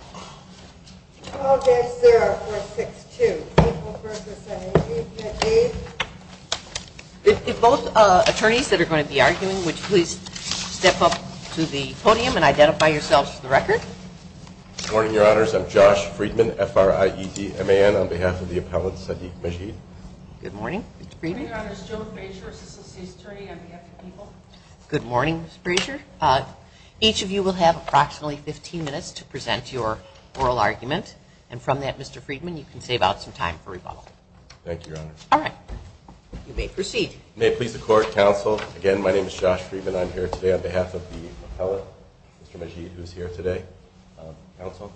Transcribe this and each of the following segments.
If both attorneys that are going to be arguing, would you please step up to the podium and identify yourselves for the record? Good morning, Your Honors. I'm Josh Friedman, F-R-I-E-D-M-A-N, on behalf of the appellant, Sadiq Majid. Good morning, Mr. Friedman. Good morning, Your Honors. Joan Frazier, associate attorney on behalf of the people. Good morning, Ms. Frazier. Each of you will have approximately 15 minutes to present your oral argument, and from that, Mr. Friedman, you can save out some time for rebuttal. Thank you, Your Honor. All right. You may proceed. May it please the Court, counsel, again, my name is Josh Friedman. I'm here today on behalf of the appellant, Mr. Majid, who is here today. Counsel,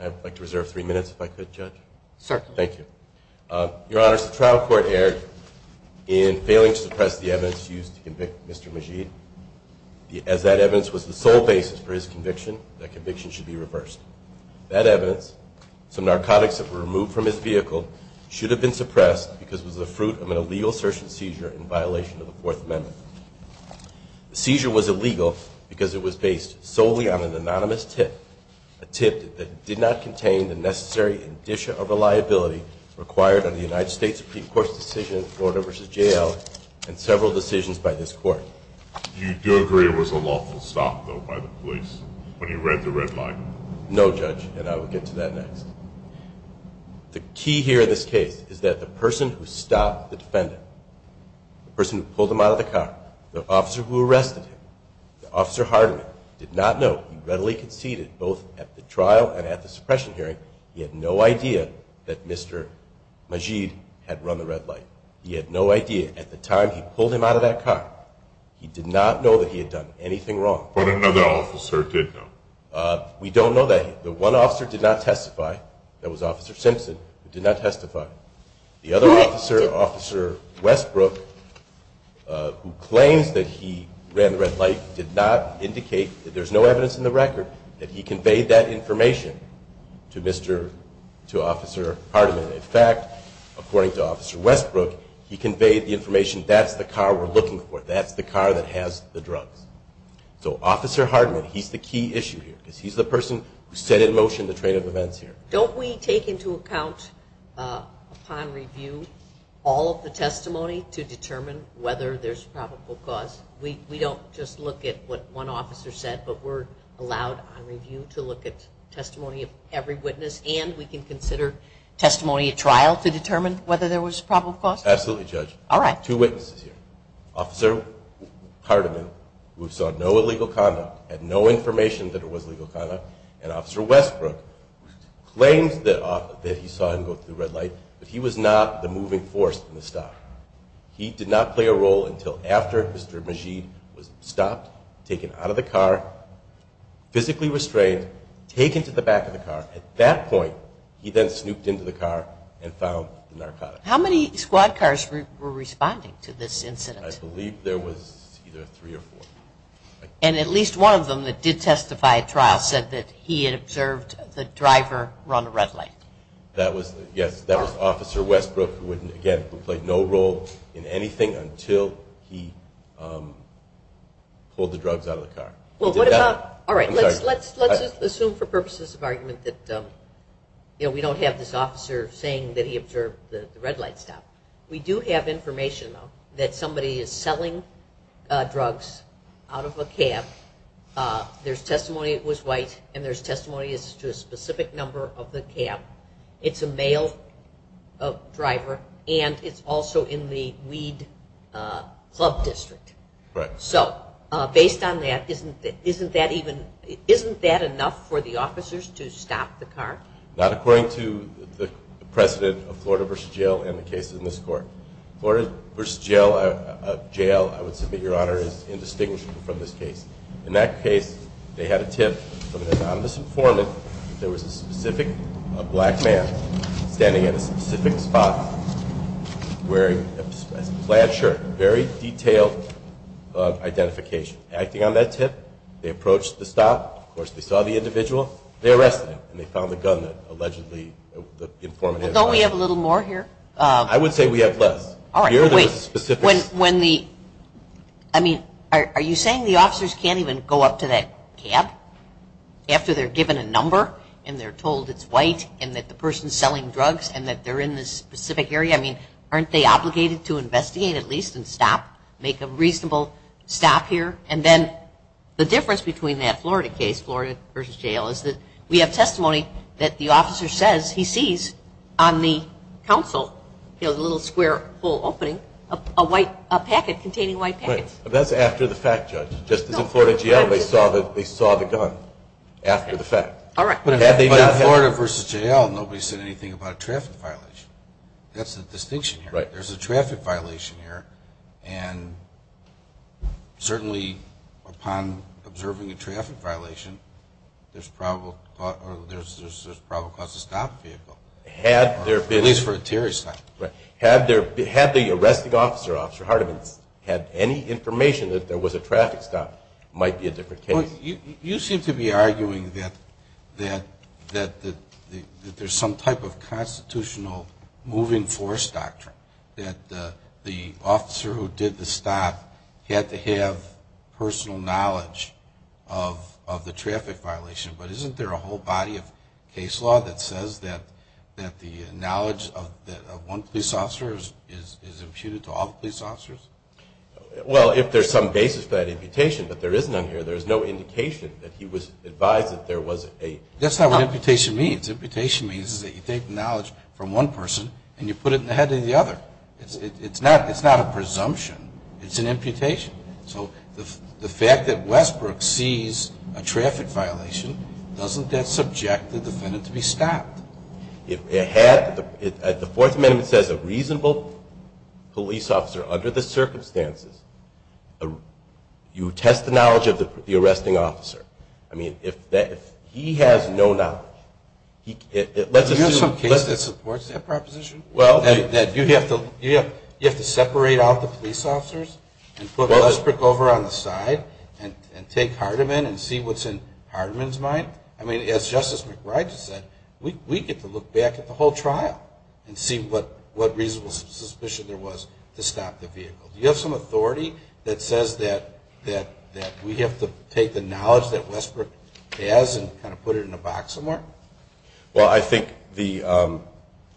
I'd like to reserve three minutes if I could, Judge. Certainly. Thank you. Your Honors, the trial court erred in failing to suppress the evidence used to convince Mr. Majid. As that evidence was the sole basis for his conviction, that conviction should be reversed. That evidence, some narcotics that were removed from his vehicle, should have been suppressed because it was the fruit of an illegal search and seizure in violation of the Fourth Amendment. The seizure was illegal because it was based solely on an anonymous tip, a tip that did not contain the necessary indicia of a liability required on the United by this Court. Do you agree it was a lawful stop, though, by the police when he read the red light? No, Judge, and I will get to that next. The key here in this case is that the person who stopped the defendant, the person who pulled him out of the car, the officer who arrested him, Officer Hardiman, did not know he readily conceded both at the trial and at the suppression hearing. He had no idea that Mr. Majid had run the red light. He had no idea at the time he pulled him out of that car. He did not know that he had done anything wrong. But another officer did know. We don't know that. The one officer did not testify. That was Officer Simpson, who did not testify. The other officer, Officer Westbrook, who claims that he ran the red light did not indicate, there's no evidence in the record, that he conveyed that information to Mr., That's the car we're looking for. That's the car that has the drugs. So Officer Hardiman, he's the key issue here, because he's the person who set in motion the train of events here. Don't we take into account, upon review, all of the testimony to determine whether there's probable cause? We don't just look at what one officer said, but we're allowed on review to look at testimony of every witness, and we can consider testimony at trial to determine whether there was probable cause? Absolutely, Judge. All right. Two witnesses here. Officer Hardiman, who saw no illegal conduct, had no information that it was illegal conduct, and Officer Westbrook, claims that he saw him go through the red light, but he was not the moving force in the stop. He did not play a role until after Mr. Majeed was stopped, taken out of the car, physically restrained, taken to the back of the car. At that point, he then snooped into the car and found the narcotics. How many squad cars were responding to this incident? I believe there was either three or four. And at least one of them that did testify at trial said that he had observed the driver run a red light? That was, yes, that was Officer Westbrook, who again, who played no role in anything until he pulled the drugs out of the car. Well, what about, all right, let's assume for purposes of argument that we don't have this officer saying that he observed the red light stop. We do have information, though, that somebody is selling drugs out of a cab. There's testimony it was white, and there's testimony as to a specific number of the cab. It's a male driver, and it's also in the Weed Club District. So based on that, isn't that enough for the officers to stop the car? Not according to the precedent of Florida v. Jail and the cases in this court. Florida v. Jail, I would submit, Your Honor, is indistinguishable from this case. In that case, they had a tip from an anonymous informant that there was a specific black man standing at a specific spot wearing a plaid shirt, very detailed identification. Acting on that tip, they approached the stop. Of course, they saw the individual. They arrested him, and they found the gun that allegedly the informant had. Well, don't we have a little more here? I would say we have less. All right, wait. Here, there was a specific When the, I mean, are you saying the officers can't even go up to that cab after they're given a number, and they're told it's white, and that the person's selling drugs, and that they're in this specific area? I mean, aren't they obligated to investigate at least and stop, make a reasonable stop here? And then the difference between that Florida case, Florida v. Jail, is that we have testimony that the officer says he sees on the counsel, you know, the little square hole opening, a white, a packet containing white packets. Right, but that's after the fact, Judge. Just as in Florida v. Jail, they saw the gun after the fact. All right. But in Florida v. Jail, nobody said anything about a traffic violation. That's the distinction here. Right. There's a traffic violation here, and certainly upon observing a traffic violation, there's probable cause to stop the vehicle. Had there been At least for a Terry stop. Right. Had the arresting officer, Officer Hardiman, had any information that there was a traffic stop, it might be a different case. You seem to be arguing that there's some type of constitutional moving force doctrine. That the officer who did the stop had to have personal knowledge of the traffic violation. But isn't there a whole body of case law that says that the knowledge of one police officer is imputed to all the police officers? Well if there's some basis for that imputation, but there isn't on here. There's no indication that he was advised that there was a That's not what imputation means. Imputation means is that you take the knowledge from one person and you put it in the head of the other. It's not a presumption. It's an imputation. So the fact that Westbrook sees a traffic violation, doesn't that subject the defendant to be stopped? If it had, the Fourth Amendment says a reasonable police officer under the circumstances, you test the knowledge of the arresting officer. I mean, if he has no knowledge, let's assume There's some case that supports that proposition. Well That you have to separate out the police officers and put Westbrook over on the side and take Hardeman and see what's in Hardeman's mind. I mean, as Justice McRitchie said, we get to look back at the whole trial and see what reasonable suspicion there was to stop the vehicle. Do you have some authority that says that we have to take the knowledge that Westbrook has and kind of put it in a box somewhere? Well, I think the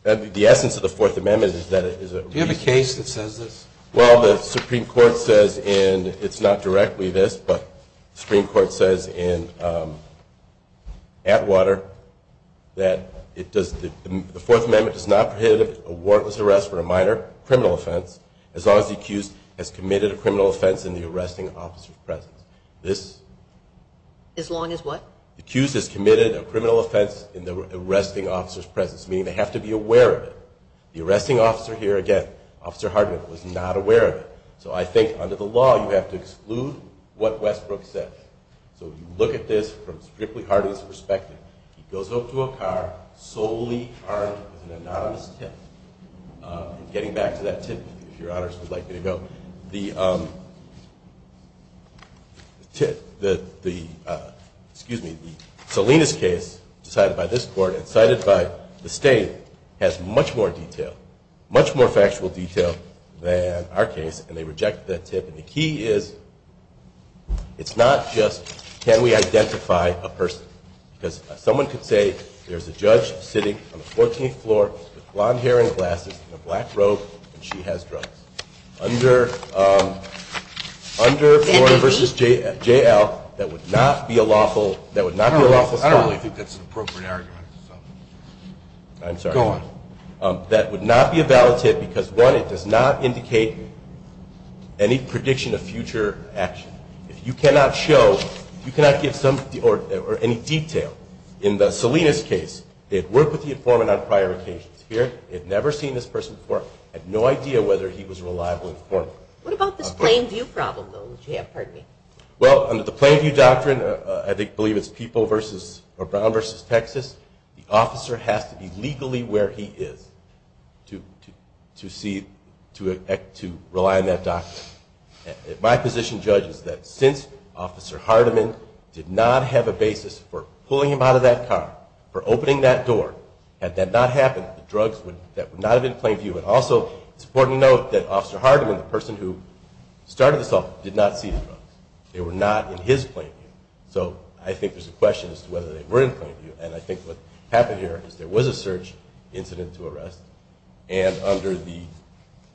essence of the Fourth Amendment is that it is a Do you have a case that says this? Well, the Supreme Court says, and it's not directly this, but the Supreme Court says in Atwater that it does, the Fourth Amendment does not prohibit a warrantless arrest for a minor criminal offense as long as the accused has committed a criminal offense in the arresting officer's presence. This As long as what? The accused has committed a criminal offense in the arresting officer's presence, meaning they have to be aware of it. The arresting officer here, again, Officer Hardeman, was not aware of it. So I think under the law you have to exclude what Westbrook said. So if you look at this from Strictly Hardeman's perspective, he goes home to a car solely armed with an anonymous tip. Getting back to that tip, if your honors would like me to go, the Selina's case decided by this court and decided by the state has much more detail, much more factual detail than our case, and they rejected that tip. And the key is it's not just can we identify a person? Because someone could say there's a judge sitting on the 14th floor with blonde hair and glasses and a black robe and she has drugs. Under Florida v. J.L., that would not be a lawful, that would not be a lawful stop. I don't really think that's an appropriate argument. I'm sorry. Go on. That would not be a valid tip because one, it does not indicate any prediction of future action. If you cannot show, you cannot give some, or any detail in the Selina's case, they'd work with the informant on prior occasions. Here, they'd never seen this person before, had no idea whether he was a reliable informant. What about this plain view problem, though, that you have? Pardon me. Well, under the plain view doctrine, I believe it's Brown v. Texas, the officer has to be legally where he is to see, to rely on that doctrine. My position judges that since Officer Hardiman did not have a basis for pulling him out of that car, for opening that door, had that not happened, the drugs would not have been in plain view. And also, it's important to note that Officer Hardiman, the person who started this off, did not see the drugs. They were not in his plain view. So I think there's a question as to whether they were in plain view. And I think what happened here is there was a search incident to arrest. And under the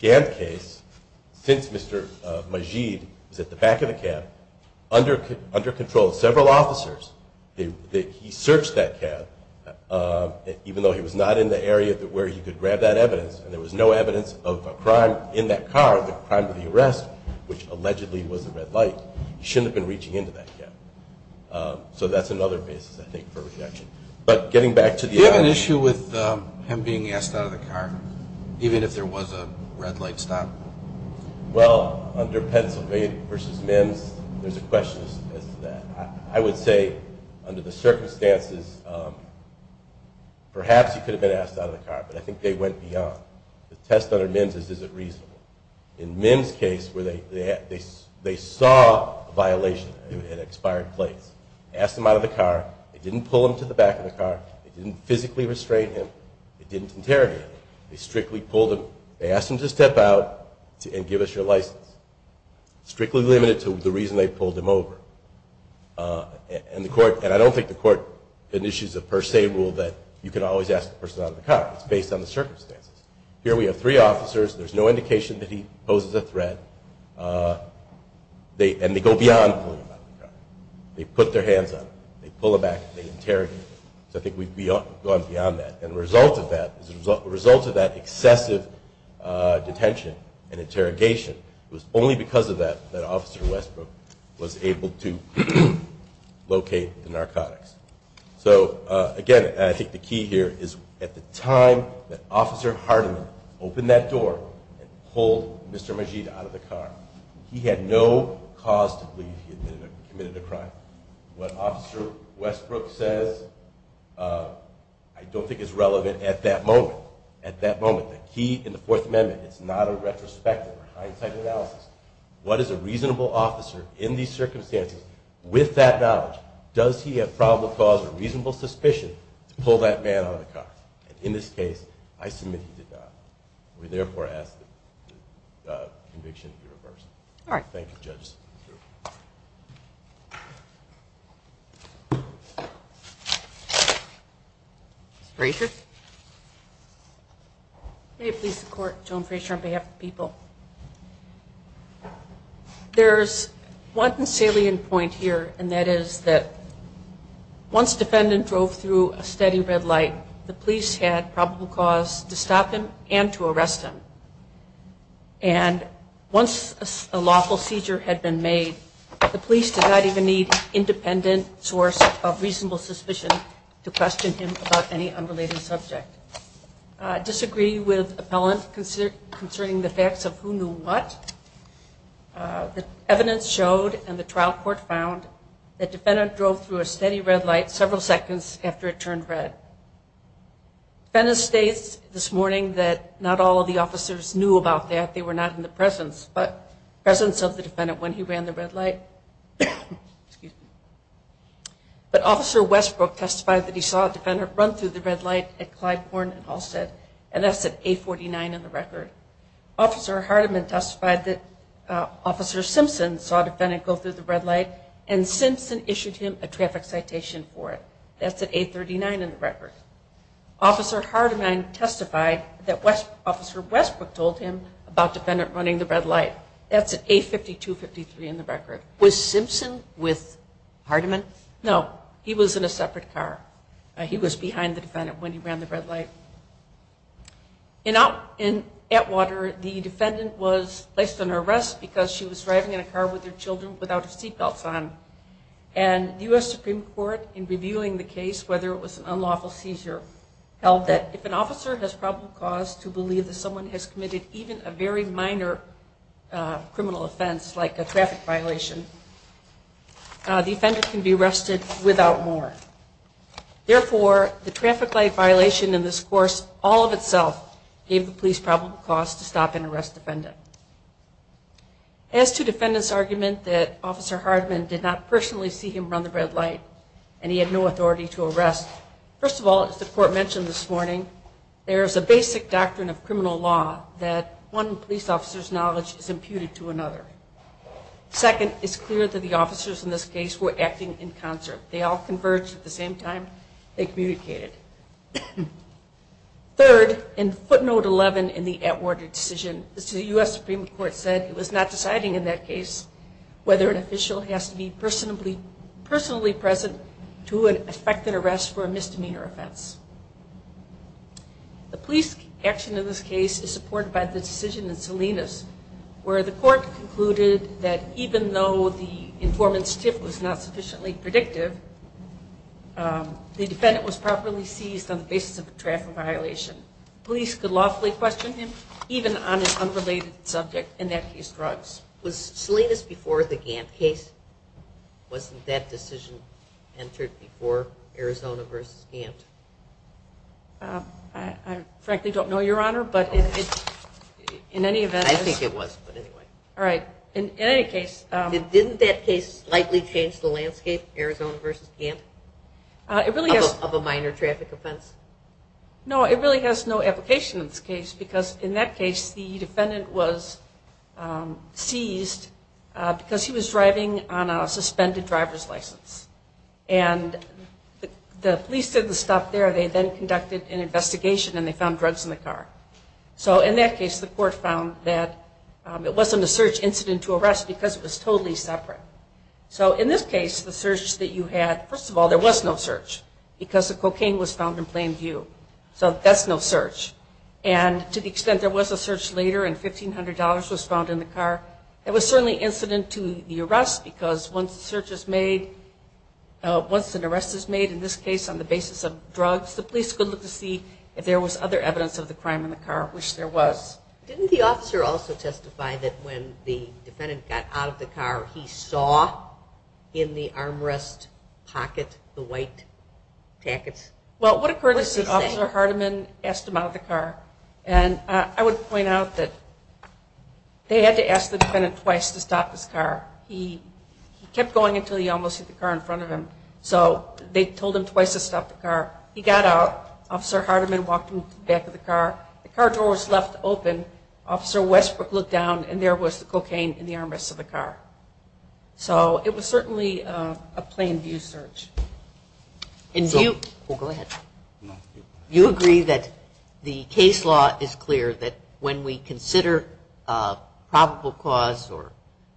Gant case, since Mr. Majid was at the back of the cab, under control, several officers, he searched that cab, even though he was not in the area where he could grab that evidence, and there was no evidence of a crime in that car, the crime of the arrest, which allegedly was a red light. He shouldn't have been reaching into that cab. So that's another basis, I think, for rejection. Do you have an issue with him being asked out of the car, even if there was a red light stop? Well, under Pennsylvania v. MIMS, there's a question as to that. I would say, under the circumstances, perhaps he could have been asked out of the car, but I think they went beyond. The test under MIMS is, is it reasonable? In MIMS' case, they saw a violation at an expired place. They asked him out of the car. They didn't pull him to the back of the car. They didn't physically restrain him. They didn't interrogate him. They strictly pulled him. They asked him to step out and give us your license. Strictly limited to the reason they pulled him over. And I don't think the court finishes a per se rule that you can always ask a person out of the car. It's based on the circumstances. Here we have three officers. There's no indication that he poses a threat. And they go beyond pulling him out of the car. They put their hands on him. They pull him back. They interrogate him. So I think we've gone beyond that. And the result of that excessive detention and interrogation was only because of that, that Officer Westbrook was able to locate the narcotics. So, again, I think the key here is, at the time that Officer Hardeman opened that door and pulled Mr. Majeed out of the car, he had no cause to believe he had committed a crime. What Officer Westbrook says I don't think is relevant at that moment. At that moment, the key in the Fourth Amendment, it's not a retrospective or hindsight analysis. What is a reasonable officer in these circumstances, with that knowledge, does he have probable cause or reasonable suspicion to pull that man out of the car? And in this case, I submit he did not. We therefore ask that the conviction be reversed. All right. Thank you, Judges. Ms. Frazier? May it please the Court, Joan Frazier on behalf of the people. There's one salient point here, and that is that once defendant drove through a steady red light, the police had probable cause to stop him and to arrest him. And once a lawful seizure had been made, the police did not even need independent source of reasonable suspicion to question him about any unrelated subject. I disagree with appellant concerning the facts of who knew what. The evidence showed, and the trial court found, that defendant drove through a steady red light several seconds after it turned red. Defendant states this morning that not all of the officers knew about that. They were not in the presence of the defendant when he ran the red light. But Officer Westbrook testified that he saw a defendant run through the red light at Clyde Corn and Halsted, Officer Hardiman testified that Officer Simpson saw a defendant go through the red light and Simpson issued him a traffic citation for it. That's at A39 in the record. Officer Hardiman testified that Officer Westbrook told him about defendant running the red light. That's at A52-53 in the record. Was Simpson with Hardiman? No. He was in a separate car. He was behind the defendant when he ran the red light. In Atwater, the defendant was placed under arrest because she was driving in a car with her children without her seat belts on. And the U.S. Supreme Court, in reviewing the case, whether it was an unlawful seizure, held that if an officer has probable cause to believe that someone has committed even a very minor criminal offense, like a traffic violation, the defendant can be arrested without more. Therefore, the traffic light violation in this course all of itself gave the police probable cause to stop and arrest the defendant. As to defendant's argument that Officer Hardiman did not personally see him run the red light and he had no authority to arrest, first of all, as the court mentioned this morning, there is a basic doctrine of criminal law that one police officer's knowledge is imputed to another. Second, it's clear that the officers in this case were acting in concert. They all converged at the same time they communicated. Third, in footnote 11 in the Atwater decision, the U.S. Supreme Court said it was not deciding in that case whether an official has to be personally present to effect an arrest for a misdemeanor offense. The police action in this case is supported by the decision in Salinas, where the court concluded that even though the informant's tip was not sufficiently predictive, the defendant was properly seized on the basis of a traffic violation. Police could lawfully question him even on an unrelated subject, in that case drugs. Was Salinas before the Gantt case? Wasn't that decision entered before Arizona v. Gantt? I frankly don't know, Your Honor. I think it was, but anyway. Didn't that case slightly change the landscape, Arizona v. Gantt, of a minor traffic offense? No, it really has no application in this case because in that case the defendant was seized because he was driving on a suspended driver's license. And the police didn't stop there. They then conducted an investigation and they found drugs in the car. So in that case the court found that it wasn't a search incident to arrest because it was totally separate. So in this case the search that you had, first of all, there was no search because the cocaine was found in plain view. So that's no search. And to the extent there was a search later and $1,500 was found in the car, it was certainly incident to the arrest because once the search is made, once an arrest is made, in this case on the basis of drugs, the police could look to see if there was other evidence of the crime in the car, which there was. Didn't the officer also testify that when the defendant got out of the car he saw in the armrest pocket the white tackets? Well, what occurred is that Officer Hardeman asked him out of the car. And I would point out that they had to ask the defendant twice to stop his car. He kept going until he almost hit the car in front of him. So they told him twice to stop the car. He got out. Officer Hardeman walked him to the back of the car. The car door was left open. Officer Westbrook looked down and there was the cocaine in the armrest of the car. So it was certainly a plain view search. And do you agree that the case law is clear that when we consider probable cause or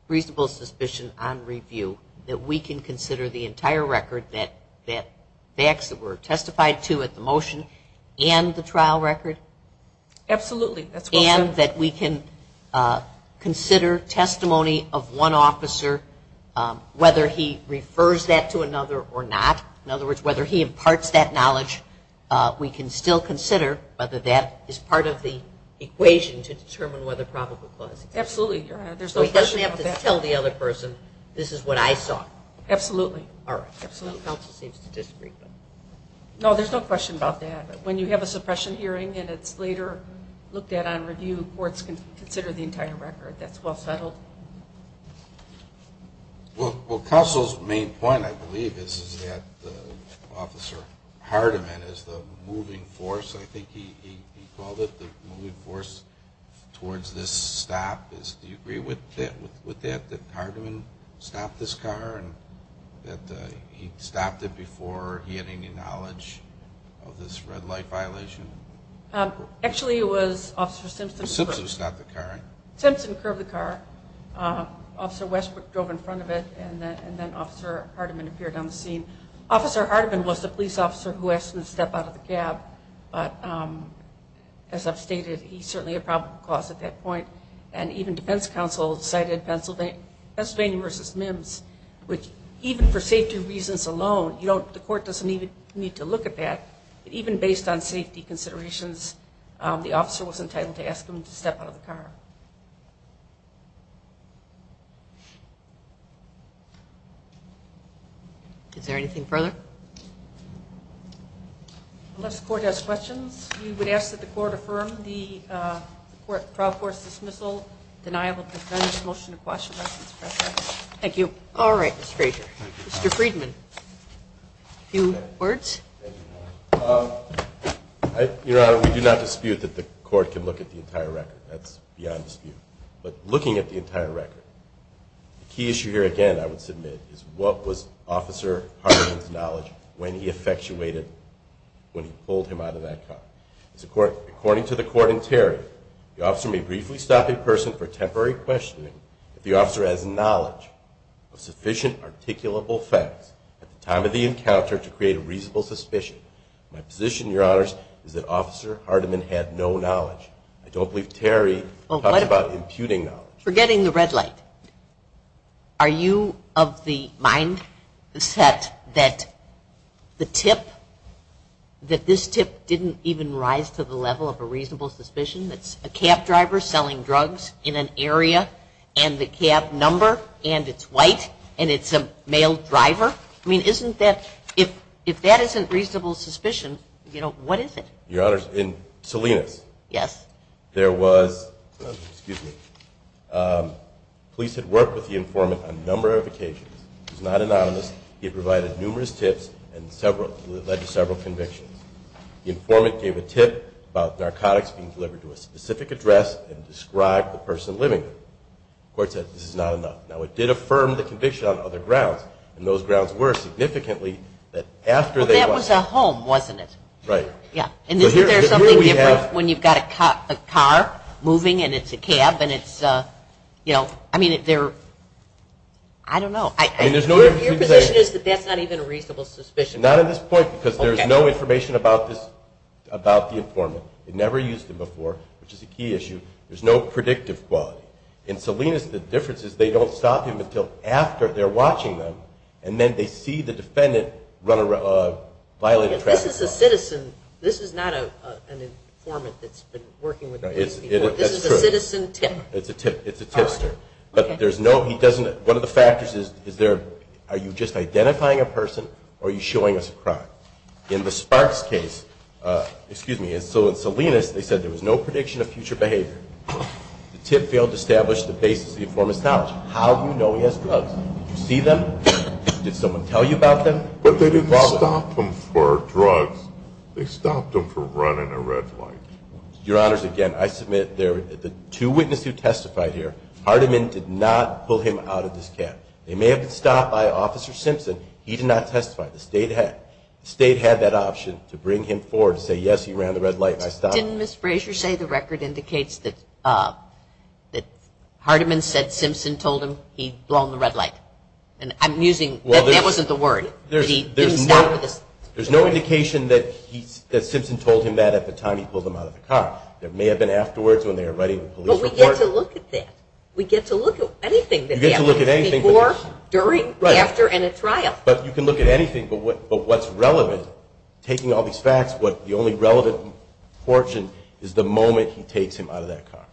reasonable suspicion on review, that we can consider the entire record that facts that were testified to at the motion and the trial record? Absolutely. And that we can consider testimony of one officer, whether he refers that to another or not? In other words, whether he imparts that knowledge, we can still consider whether that is part of the equation to determine whether probable cause exists? Absolutely. So he doesn't have to tell the other person, this is what I saw? Absolutely. All right. Counsel seems to disagree. No, there's no question about that. When you have a suppression hearing and it's later looked at on review, courts can consider the entire record. That's well settled. Well, Counsel's main point, I believe, is that Officer Hardiman is the moving force, I think he called it, the moving force towards this stop. Do you agree with that, that Hardiman stopped this car and that he stopped it before he had any knowledge of this red light violation? Actually, it was Officer Simpson. Simpson stopped the car. Simpson curbed the car. Officer Westbrook drove in front of it, and then Officer Hardiman appeared on the scene. Officer Hardiman was the police officer who asked him to step out of the cab, but as I've stated, he's certainly a probable cause at that point. And even defense counsel cited Pennsylvania v. Mims, which even for safety reasons alone, the court doesn't even need to look at that. Even based on safety considerations, the officer was entitled to ask him to step out of the car. Is there anything further? Unless the court has questions, we would ask that the court affirm the trial court's dismissal, denial of defense, motion to question. Thank you. All right, Mr. Frazier. Mr. Friedman, a few words? Your Honor, we do not dispute that the court can look at the entire record. That's beyond dispute. But looking at the entire record, the key issue here, again, I would submit, is what was Officer Hardiman's knowledge when he effectuated when he pulled him out of that car? According to the court in Terry, the officer may briefly stop a person for temporary questioning if the officer has knowledge of sufficient articulable facts at the time of the encounter to create a reasonable suspicion. My position, Your Honor, is that Officer Hardiman had no knowledge. I don't believe Terry talked about imputing knowledge. Forgetting the red light, are you of the mindset that the tip, that this tip didn't even rise to the level of a reasonable suspicion? It's a cab driver selling drugs in an area, and the cab number, and it's white, and it's a male driver? I mean, if that isn't reasonable suspicion, what is it? Your Honor, in Salinas, there was, excuse me, police had worked with the informant on a number of occasions. He was not anonymous. He had provided numerous tips and led to several convictions. The informant gave a tip about narcotics being delivered to a specific address and described the person living there. The court said this is not enough. Now, it did affirm the conviction on other grounds, and those grounds were significantly that after they went. Well, that was a home, wasn't it? Right. Yeah. And isn't there something different when you've got a car moving and it's a cab and it's, you know, I mean, they're, I don't know. Your position is that that's not even a reasonable suspicion? Not at this point because there's no information about this, about the informant. They never used him before, which is a key issue. There's no predictive quality. In Salinas, the difference is they don't stop him until after they're watching them, and then they see the defendant run around, violate a traffic law. This is a citizen. This is not an informant that's been working with the police before. That's true. This is a citizen tip. It's a tip. It's a tipster. But there's no, he doesn't, one of the factors is, is there, are you just identifying a person or are you showing us a crime? In the Sparks case, excuse me, so in Salinas, they said there was no prediction of future behavior. The tip failed to establish the basis of the informant's knowledge. How do you know he has drugs? Did you see them? Did someone tell you about them? But they didn't stop him for drugs. They stopped him for running a red light. Your Honors, again, I submit the two witnesses who testified here, Hardiman did not pull him out of this cab. They may have been stopped by Officer Simpson. He did not testify. The state had that option to bring him forward to say, yes, he ran the red light and I stopped him. Didn't Ms. Frazier say the record indicates that Hardiman said Simpson told him he'd blown the red light? And I'm using, that wasn't the word. There's no indication that Simpson told him that at the time he pulled him out of the car. It may have been afterwards when they were writing the police report. But we get to look at that. We get to look at anything. You get to look at anything. Before, during, after, and at trial. But you can look at anything. But what's relevant, taking all these facts, the only relevant portion is the moment he takes him out of that car.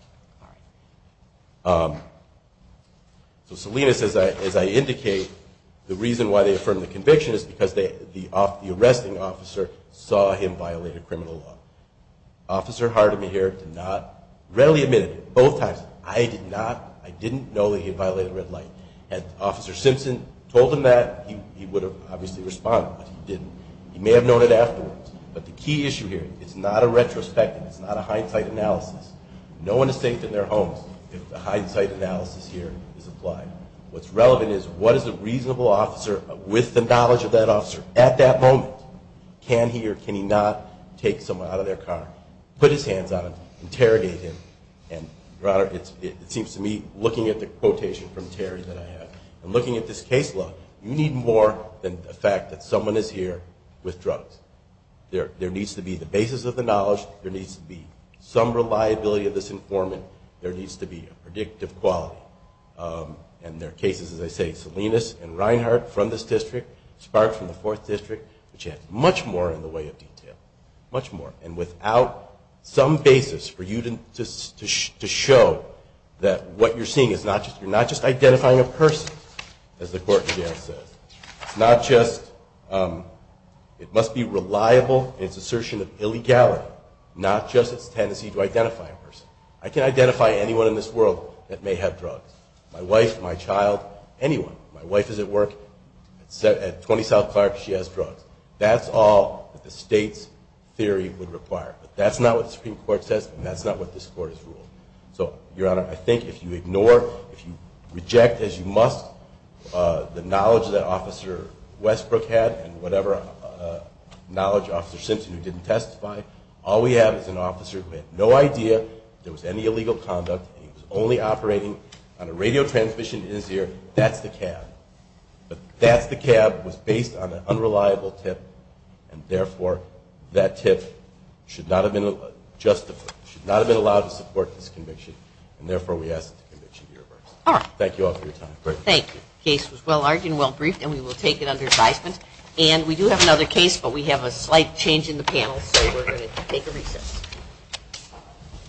So Salinas, as I indicate, the reason why they affirmed the conviction is because the arresting officer saw him violate a criminal law. Officer Hardiman here did not readily admit it both times. I did not. I didn't know that he violated red light. Had Officer Simpson told him that, he would have obviously responded. But he didn't. He may have known it afterwards. But the key issue here, it's not a retrospective, it's not a hindsight analysis. No one is safe in their homes if the hindsight analysis here is applied. What's relevant is what is a reasonable officer with the knowledge of that officer at that moment, can he or can he not take someone out of their car, put his hands on him, interrogate him, and rather, it seems to me, looking at the quotation from Terry that I have, and looking at this case law, you need more than the fact that someone is here with drugs. There needs to be the basis of the knowledge. There needs to be some reliability of this informant. There needs to be a predictive quality. And there are cases, as I say, Salinas and Reinhardt from this district, Spark from the Fourth District, which have much more in the way of detail, much more. And without some basis for you to show that what you're seeing is not just, you're not just identifying a person, as the court here says. It's not just, it must be reliable in its assertion of illegality, not just its tendency to identify a person. I can identify anyone in this world that may have drugs. My wife, my child, anyone. My wife is at work at 20 South Clark. She has drugs. That's all that the state's theory would require. But that's not what the Supreme Court says, and that's not what this court has ruled. So, Your Honor, I think if you ignore, if you reject as you must the knowledge that Officer Westbrook had and whatever knowledge Officer Simpson who didn't testify, all we have is an officer who had no idea there was any illegal conduct. He was only operating on a radio transmission in his ear. That's the cab. That's the cab, was based on an unreliable tip, and therefore that tip should not have been allowed to support this conviction, and therefore we ask that the conviction be reversed. Thank you all for your time. Thank you. The case was well-argued and well-briefed, and we will take it under advisement. And we do have another case, but we have a slight change in the panel, so we're going to take a recess.